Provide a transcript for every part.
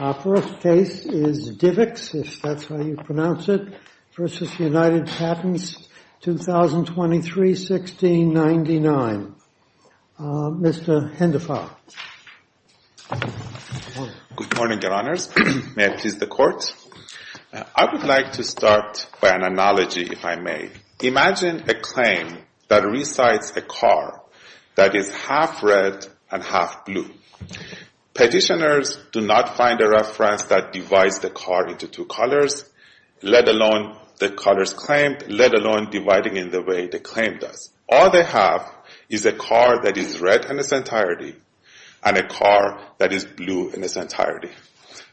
The first case is DivX v. United Patents, 2023-1699. Mr. Hendafar. Good morning, Your Honors. May I please the Court? I would like to start by an analogy, if I may. Imagine a claim that recites a car that is half red and half blue. Petitioners do not find a reference that divides the car into two colors, let alone the colors claimed, let alone dividing in the way the claim does. All they have is a car that is red in its entirety and a car that is blue in its entirety.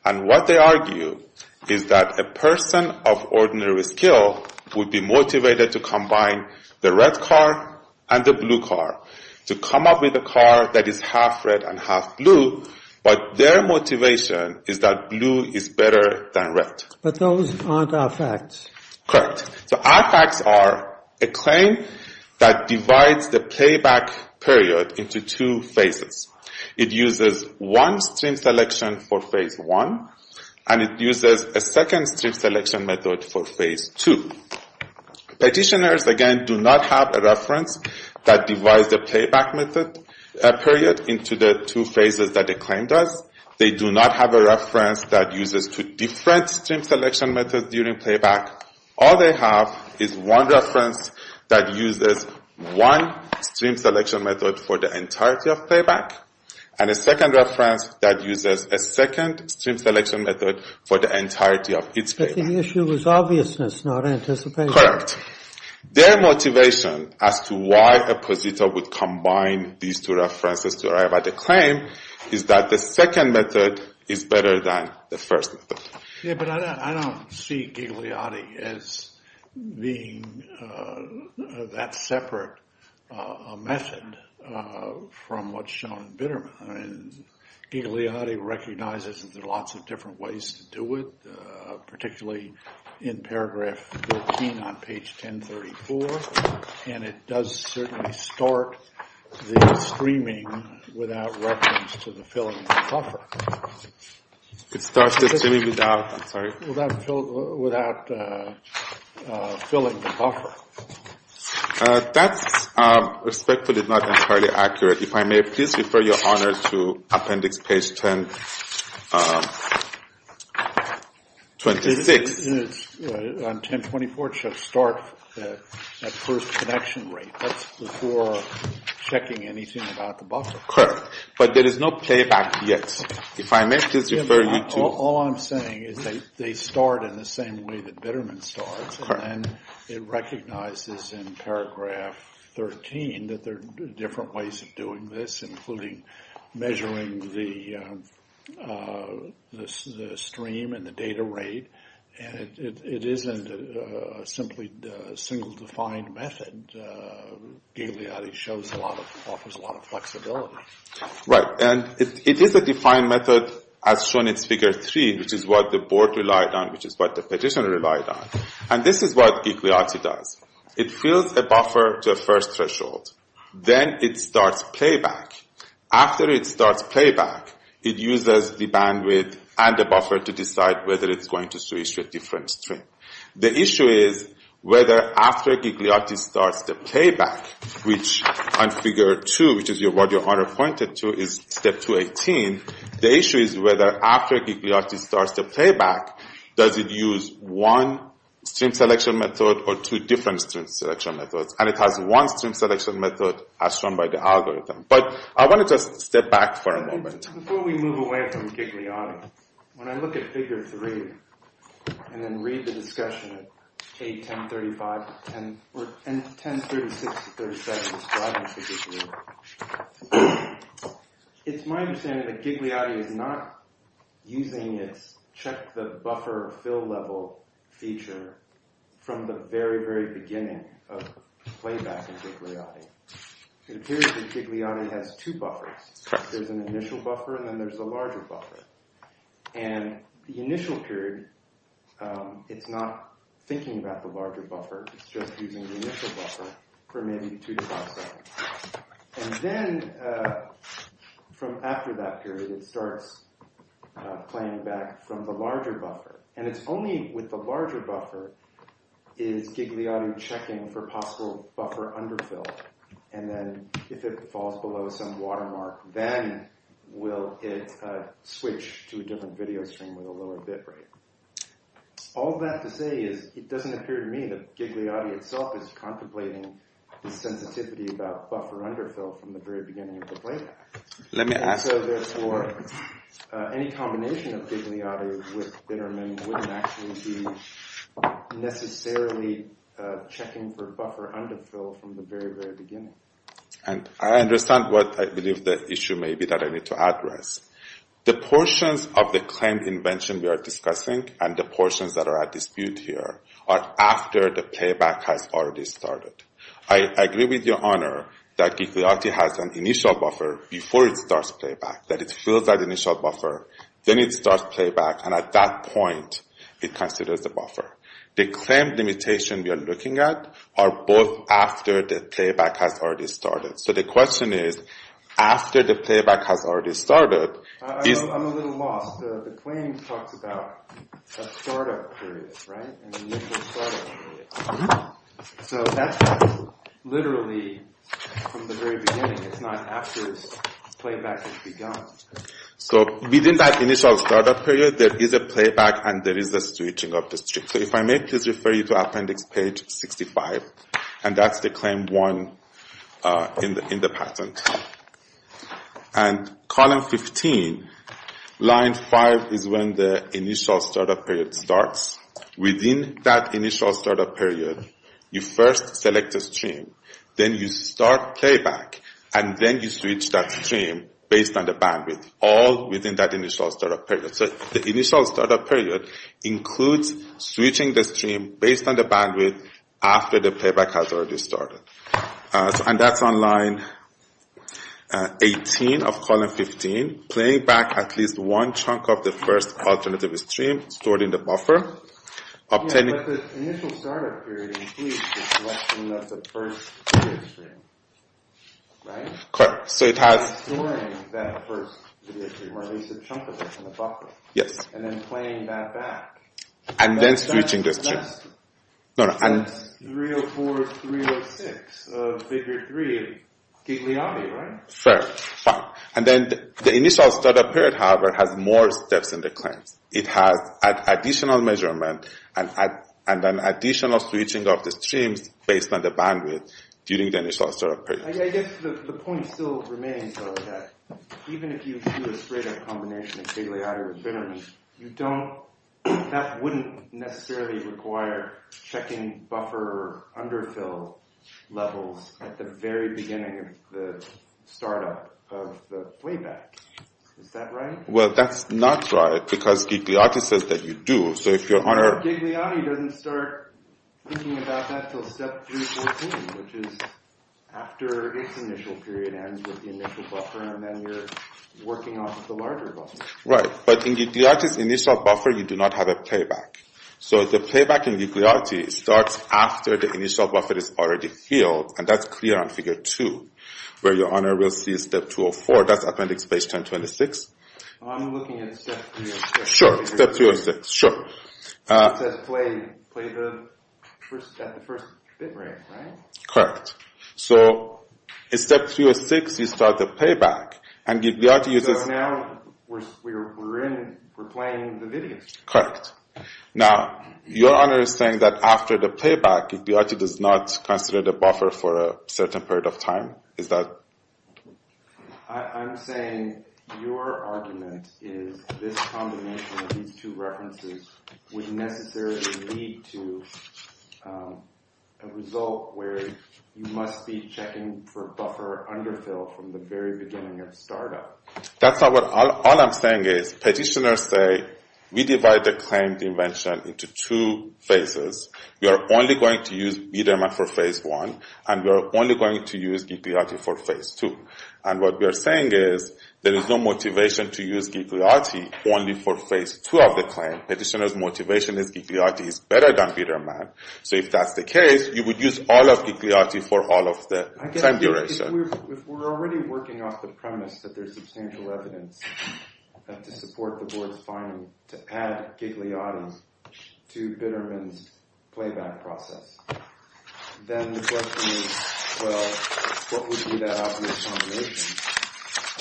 And what they argue is that a person of ordinary skill would be motivated to combine the red car and the blue car to come up with a car that is half red and half blue, but their motivation is that blue is better than red. But those aren't our facts. Correct. So our facts are a claim that divides the playback period into two phases. It uses one stream selection for phase one, and it uses a second stream selection method for phase two. Petitioners, again, do not have a reference that divides the playback period into the two phases that the claim does. They do not have a reference that uses two different stream selection methods during playback. All they have is one reference that uses one stream selection method for the entirety of playback and a second reference that uses a second stream selection method for the entirety of its playback. But the issue is obviousness, not anticipation. Correct. Their motivation as to why a positor would combine these two references to arrive at a claim is that the second method is better than the first method. Yeah, but I don't see Gigliotti as being that separate a method from what's shown in Bitterman. Gigliotti recognizes that there are lots of different ways to do it, particularly in paragraph 13 on page 1034. And it does certainly start the streaming without reference to the filling buffer. It starts the streaming without, I'm sorry? Without filling the buffer. That's respectfully not entirely accurate. If I may, please refer your honor to appendix page 1026. On 1024, it should start at first connection rate. That's before checking anything about the buffer. Correct. But there is no playback yet. If I may, please refer you to... All I'm saying is they start in the same way that Bitterman starts. And it recognizes in paragraph 13 that there are different ways of doing this, including measuring the stream and the data rate. And it isn't simply a single defined method. Gigliotti offers a lot of flexibility. And it is a defined method as shown in figure three, which is what the board relied on, which is what the petitioner relied on. And this is what Gigliotti does. It fills a buffer to a first threshold. Then it starts playback. After it starts playback, it uses the bandwidth and the buffer to decide whether it's going to switch to a different stream. The issue is whether after Gigliotti starts the playback, which on figure two, which is what your honor pointed to, is step 218. The issue is whether after Gigliotti starts the playback, does it use one stream selection method or two different stream selection methods? And it has one stream selection method as shown by the algorithm. But I want to just step back for a moment. Before we move away from Gigliotti, when I look at figure three and then read the discussion at 1036-1037, it's my understanding that Gigliotti is not using its check the buffer fill level feature from the very, very beginning of playback in Gigliotti. Gigliotti has two buffers. There's an initial buffer and then there's a larger buffer. And the initial period, it's not thinking about the larger buffer. It's just using the initial buffer for maybe two to five seconds. And then from after that period, it starts playing back from the larger buffer. And it's only with the larger buffer is Gigliotti checking for possible buffer underfill. And then if it falls below some watermark, then will it switch to a different video stream with a lower bitrate? All that to say is it doesn't appear to me that Gigliotti itself is contemplating the sensitivity about buffer underfill from the very beginning of the playback. And so therefore, any combination of Gigliotti with Bitterman wouldn't actually be necessarily checking for buffer underfill from the very, very beginning. And I understand what I believe the issue may be that I need to address. The portions of the claim invention we are discussing and the portions that are at dispute here are after the playback has already started. I agree with your honor that Gigliotti has an initial buffer before it starts playback. That it fills that initial buffer, then it starts playback, and at that point, it considers the buffer. The claim limitation we are looking at are both after the playback has already started. So the question is, after the playback has already started... I'm a little lost. The claim talks about a startup period, right? An initial startup period. So that's literally from the very beginning. It's not after playback has begun. So within that initial startup period, there is a playback and there is a switching of the stream. So if I may just refer you to Appendix page 65, and that's the claim one in the patent. And column 15, line 5, is when the initial startup period starts. Within that initial startup period, you first select a stream. Then you start playback. And then you switch that stream based on the bandwidth. All within that initial startup period. So the initial startup period includes switching the stream based on the bandwidth after the playback has already started. And that's on line 18 of column 15. Playback at least one chunk of the first alternative stream stored in the buffer. But the initial startup period includes the selection of the first video stream, right? Correct. So it has... Storing that first video stream, or at least a chunk of it in the buffer. Yes. And then playing that back. And then switching the stream. That's 304, 306 of figure 3 of Gigliotti, right? Fair. Fine. And then the initial startup period, however, has more steps in the claims. It has an additional measurement and an additional switching of the streams based on the bandwidth during the initial startup period. I guess the point still remains, though, that even if you do a straight-up combination of Gigliotti with Bittermeat, that wouldn't necessarily require checking buffer underfill levels at the very beginning of the startup of the playback. Is that right? Well, that's not right. Because Gigliotti says that you do. So if you're on a... Gigliotti doesn't start thinking about that until step 314, which is after its initial period ends with the initial buffer, and then you're working on the larger buffer. Right. But in Gigliotti's initial buffer, you do not have a playback. So the playback in Gigliotti starts after the initial buffer is already filled, and that's clear on figure 2, where your owner will see step 204. That's appendix page 1026. I'm looking at step 306. Sure. Step 306. Sure. It says play at the first bit rate, right? Correct. So in step 306, you start the playback, and Gigliotti uses... So now we're playing the videos. Correct. Now, your owner is saying that after the playback, Gigliotti does not consider the buffer for a certain period of time. Is that...? I'm saying your argument is this combination of these two references would necessarily lead to a result where you must be checking for buffer underfill from the very beginning of startup. That's not what I'm... All I'm saying is petitioners say, we divide the claimed invention into two phases. We are only going to use B-dynamic for phase 1, and we are only going to use Gigliotti for phase 2. And what we are saying is there is no motivation to use Gigliotti only for phase 2 of the claim. Petitioners' motivation is Gigliotti is better than Bitterman. So if that's the case, you would use all of Gigliotti for all of the time duration. If we're already working off the premise that there's substantial evidence to support the board's finding to add Gigliotti to Bitterman's playback process, then the question is, well, what would be that obvious combination?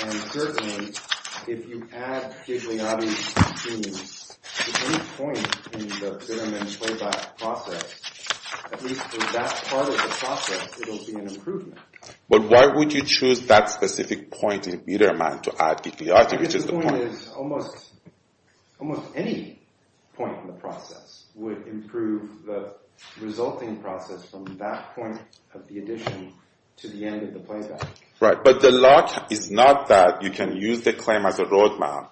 And certainly, if you add Gigliotti to any point in the Bitterman playback process, at least for that part of the process, it'll be an improvement. But why would you choose that specific point in Bitterman to add Gigliotti, which is the point...? Almost any point in the process would improve the resulting process from that point of the addition to the end of the playback. Right. But the luck is not that you can use the claim as a roadmap,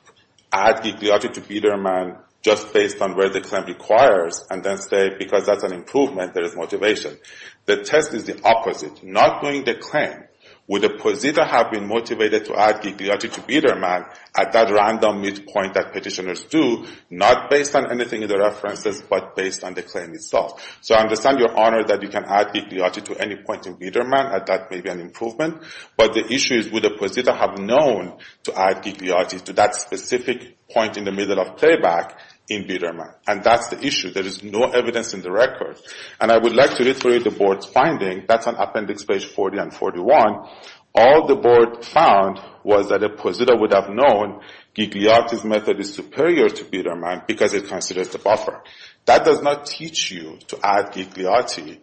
add Gigliotti to Bitterman just based on where the claim requires, and then say, because that's an improvement, there is motivation. The test is the opposite. Not doing the claim, would a positive have been motivated to add Gigliotti to Bitterman at that random midpoint that petitioners do, not based on anything in the references, but based on the claim itself? So I understand your honor that you can add Gigliotti to any point in Bitterman, and that may be an improvement. But the issue is, would a positive have known to add Gigliotti to that specific point in the middle of playback in Bitterman? And that's the issue. There is no evidence in the record. And I would like to reiterate the board's finding. That's on appendix 40 and 41. All the board found was that a positive would have known Gigliotti's method is superior to Bitterman because it considers the buffer. That does not teach you to add Gigliotti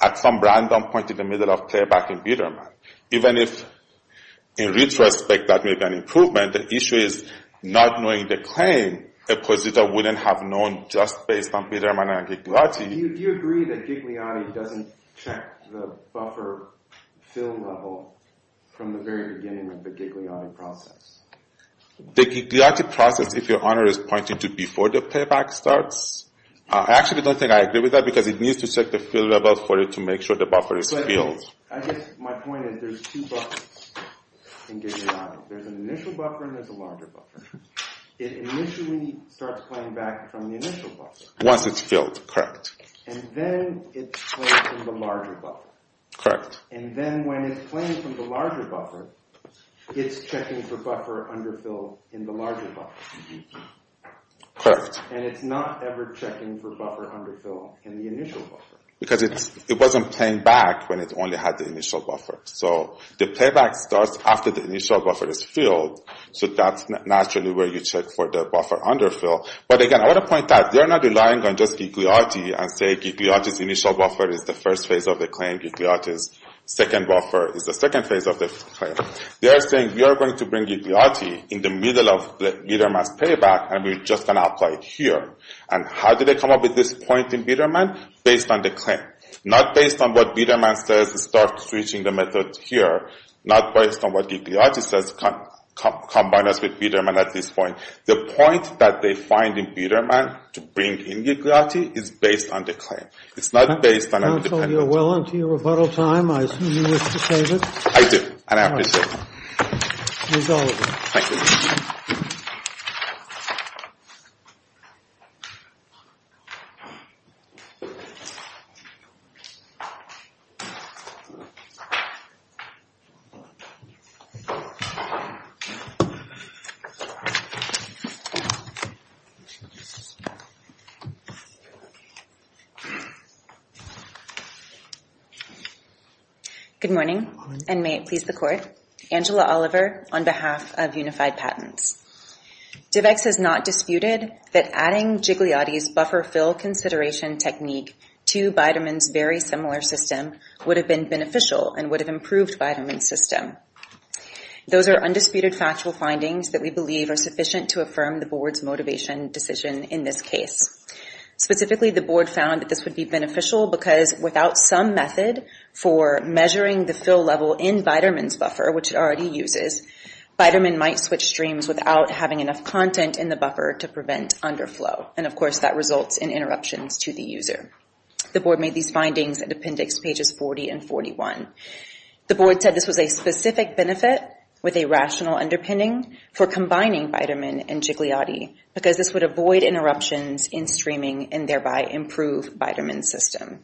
at some random point in the middle of playback in Bitterman. Even if, in retrospect, that may be an improvement, the issue is not knowing the claim, a positive wouldn't have known just based on Bitterman and Gigliotti. Do you agree that Gigliotti doesn't check the buffer fill level from the very beginning of the Gigliotti process? The Gigliotti process, if your honor is pointing to before the playback starts, I actually don't think I agree with that because it needs to check the fill level for it to make sure the buffer is filled. I guess my point is there's two buffers in Gigliotti. There's an initial buffer and there's a larger buffer. It initially starts playing back from the initial buffer. Once it's filled, correct. And then it's playing from the larger buffer. Correct. And then when it's playing from the larger buffer, it's checking for buffer underfill in the larger buffer. Correct. And it's not ever checking for buffer underfill in the initial buffer. Because it wasn't playing back when it only had the initial buffer. So the playback starts after the initial buffer is filled, so that's naturally where you check for the buffer underfill. But again, I want to point out, they're not relying on just Gigliotti and say Gigliotti's initial buffer is the first phase of the claim, Gigliotti's second buffer is the second phase of the claim. They are saying we are going to bring Gigliotti in the middle of Bitterman's playback and we're just going to apply it here. And how did they come up with this point in Bitterman? Based on the claim. Not based on what Bitterman says, start switching the method here. Not based on what Gigliotti says, combine us with Bitterman at this point. The point that they find in Bitterman to bring in Gigliotti is based on the claim. It's not based on an independent claim. Counsel, you're well into your rebuttal time. I assume you wish to save it. I do. And I appreciate it. All right. Thank you. Good morning and may it please the Court. Angela Oliver on behalf of Unified Patents. DIVX has not disputed that adding Gigliotti's buffer fill consideration technique to Bitterman's very similar system would have been beneficial and would have improved Bitterman's system. Those are undisputed factual findings that we believe are sufficient to affirm the Board's motivation decision in this case. Specifically, the Board found that this would be beneficial because without some method for measuring the fill level in Bitterman's buffer, which it already uses, Bitterman might switch streams without having enough content in the buffer to prevent underflow. And, of course, that results in interruptions to the user. The Board made these findings in Appendix Pages 40 and 41. The Board said this was a specific benefit with a rational underpinning for combining Bitterman and Gigliotti because this would avoid interruptions in streaming and thereby improve Bitterman's system.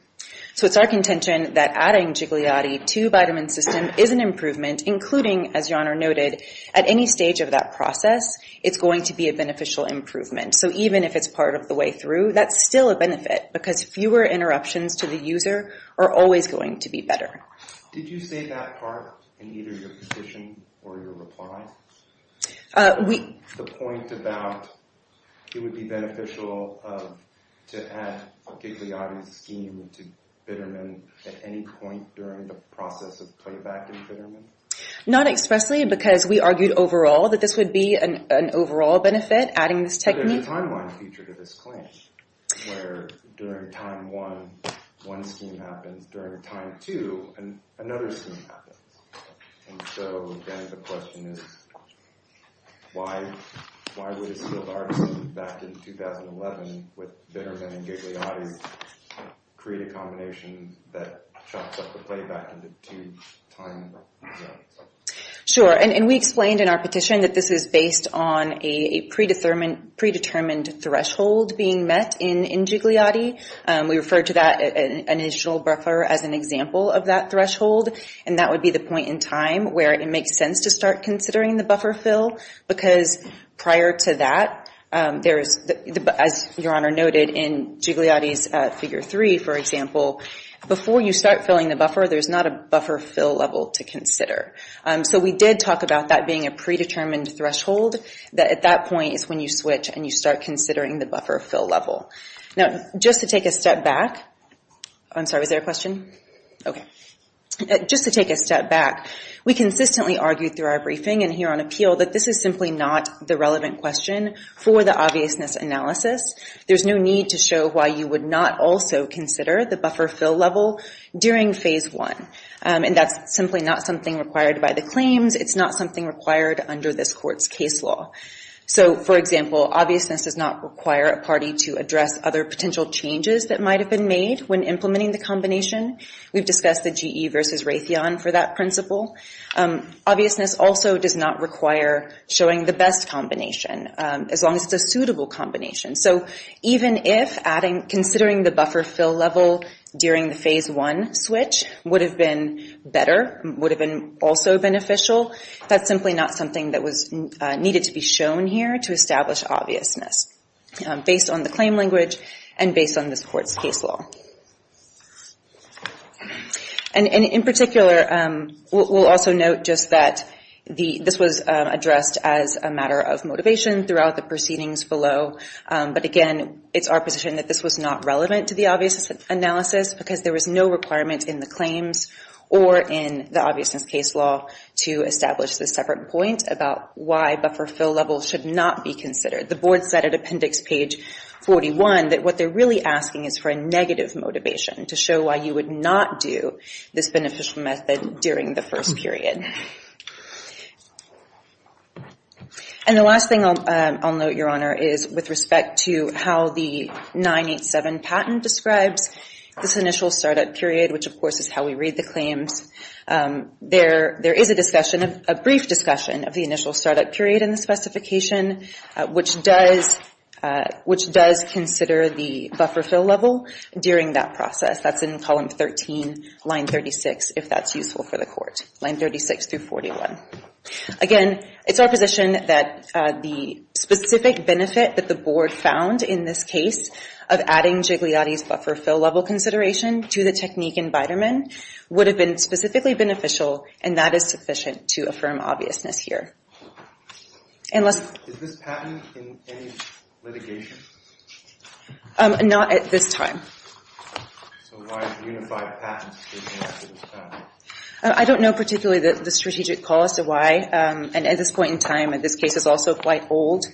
So it's our contention that adding Gigliotti to Bitterman's system is an improvement, including, as your Honor noted, at any stage of that process, it's going to be a beneficial improvement. So even if it's part of the way through, that's still a benefit because fewer interruptions to the user are always going to be better. Did you say that part in either your petition or your reply? The point about it would be beneficial to add a Gigliotti scheme to Bitterman at any point during the process of playback in Bitterman? Not expressly because we argued overall that this would be an overall benefit, adding this technique. There's a timeline feature to this claim where during time one, one scheme happens. During time two, another scheme happens. So then the question is, why would a skilled artist back in 2011 with Bitterman and Gigliotti create a combination that chops up the playback into two time zones? Sure, and we explained in our petition that this is based on a predetermined threshold being met in Gigliotti. We refer to that initial buffer as an example of that threshold, and that would be the point in time where it makes sense to start considering the buffer fill because prior to that, as your Honor noted in Gigliotti's Figure 3, for example, before you start filling the buffer, there's not a buffer fill level to consider. So we did talk about that being a predetermined threshold, that at that point is when you switch and you start considering the buffer fill level. Now, just to take a step back, I'm sorry, was there a question? Okay. Just to take a step back, we consistently argued through our briefing and here on appeal that this is simply not the relevant question for the obviousness analysis. There's no need to show why you would not also consider the buffer fill level during phase one. And that's simply not something required by the claims. It's not something required under this Court's case law. So, for example, obviousness does not require a party to address other potential changes that might have been made when implementing the combination. We've discussed the GE versus Raytheon for that principle. Obviousness also does not require showing the best combination, as long as it's a suitable combination. So even if considering the buffer fill level during the phase one switch would have been better, would have been also beneficial, that's simply not something that needed to be shown here to establish obviousness based on the claim language and based on this Court's case law. And in particular, we'll also note just that this was addressed as a matter of motivation throughout the proceedings below. But again, it's our position that this was not relevant to the obviousness analysis because there was no requirement in the claims or in the obviousness case law to establish this separate point about why buffer fill level should not be considered. The Board said at appendix page 41 that what they're really asking is for a negative motivation to show why you would not do this beneficial method during the first period. And the last thing I'll note, Your Honor, is with respect to how the 987 patent describes this initial startup period, which, of course, is how we read the claims. There is a discussion, a brief discussion of the initial startup period in the specification, which does consider the buffer fill level during that process. That's in column 13, line 36, if that's useful for the Court, line 36 through 41. Again, it's our position that the specific benefit that the Board found in this case of adding Jigliotti's buffer fill level consideration to the technique in Biderman would have been specifically beneficial, and that is sufficient to affirm obviousness here. Is this patent in any litigation? Not at this time. So why is a unified patent? I don't know particularly the strategic cause of why. And at this point in time, this case is also quite old.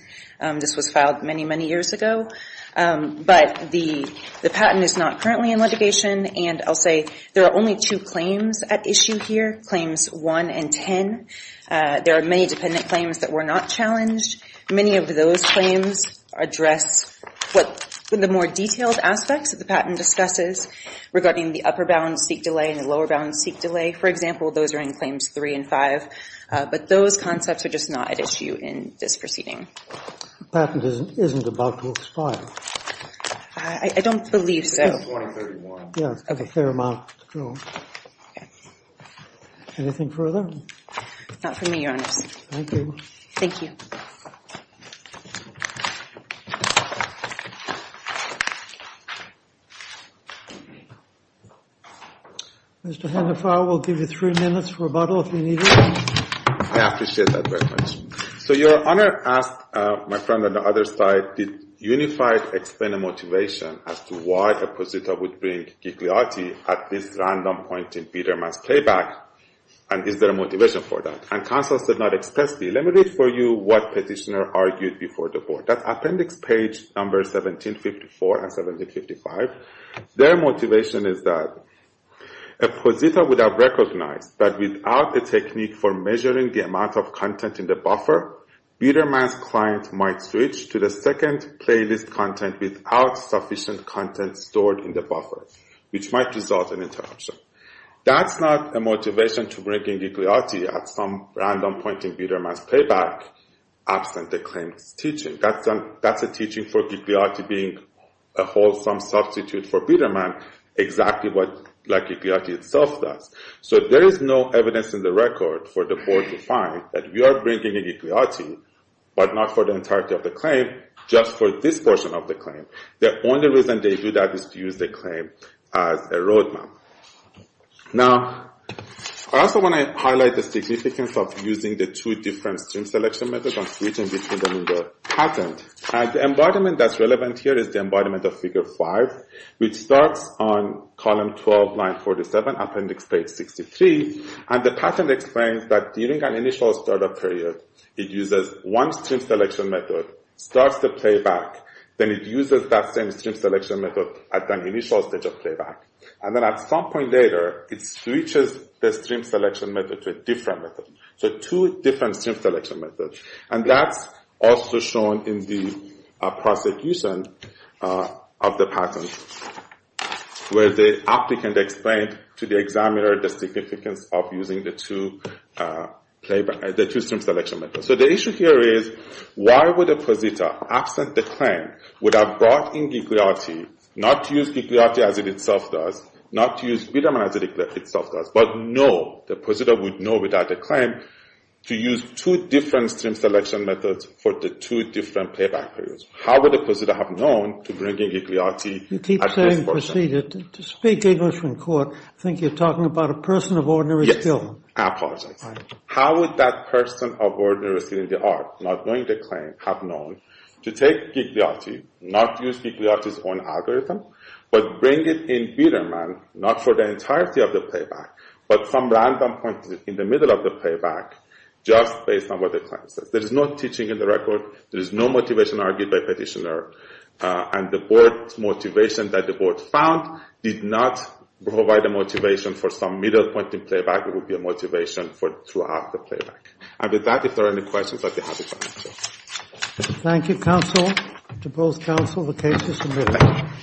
This was filed many, many years ago. But the patent is not currently in litigation. And I'll say there are only two claims at issue here, claims 1 and 10. There are many dependent claims that were not challenged. Many of those claims address what the more detailed aspects of the patent discusses regarding the upper-bound seek delay and the lower-bound seek delay. For example, those are in claims 3 and 5. But those concepts are just not at issue in this proceeding. The patent isn't about to expire. I don't believe so. It's got a fair amount to go. Anything further? Not for me, Your Honor. Thank you. Thank you. Mr. Hennefer, we'll give you three minutes for rebuttal if you need it. I appreciate that very much. So Your Honor asked my friend on the other side, did UNIFIED explain a motivation as to why Posita would bring Gigliotti at this random point in Biderman's playback? And is there a motivation for that? And counsel said not explicitly. Let me read for you what petitioner argued before the board. That's appendix page number 1754 and 1755. Their motivation is that a Posita would have recognized that without a technique for measuring the amount of content in the buffer, Biderman's client might switch to the second playlist content without sufficient content stored in the buffer, which might result in interruption. That's not a motivation to bring in Gigliotti at some random point in Biderman's playback, absent the claims teaching. That's a teaching for Gigliotti being a wholesome substitute for Biderman, exactly what Gigliotti itself does. So there is no evidence in the record for the board to find that we are bringing in Gigliotti, but not for the entirety of the claim, just for this portion of the claim. The only reason they do that is to use the claim as a roadmap. Now, I also want to highlight the significance of using the two different stream selection methods and switching between them in the patent. The embodiment that's relevant here is the embodiment of figure five, which starts on column 12, line 47, appendix page 63, and the patent explains that during an initial startup period, it uses one stream selection method, starts the playback, then it uses that same stream selection method at the initial stage of playback. And then at some point later, it switches the stream selection method to a different method. So two different stream selection methods. And that's also shown in the prosecution of the patent, where the applicant explained to the examiner the significance of using the two stream selection methods. So the issue here is, why would a prosecutor, absent the claim, would have brought in Gigliotti, not to use Gigliotti as it itself does, not to use Widerman as it itself does, but know, the prosecutor would know without the claim, to use two different stream selection methods for the two different playback periods. How would a prosecutor have known to bring in Gigliotti at this point? You keep saying prosecutor. To speak English in court, I think you're talking about a person of ordinary skill. Yes. I apologize. How would that person of ordinary skill in the art, not knowing the claim, have known to take Gigliotti, not use Gigliotti's own algorithm, but bring it in Widerman, not for the entirety of the playback, but from random points in the middle of the playback, just based on what the claim says. There is no teaching in the record. There is no motivation argued by petitioner. And the board's motivation that the board found did not provide a motivation for some middle point in playback. It would be a motivation throughout the playback. And with that, if there are any questions, I'd be happy to answer. Thank you, counsel. To both counsel, the case is submitted.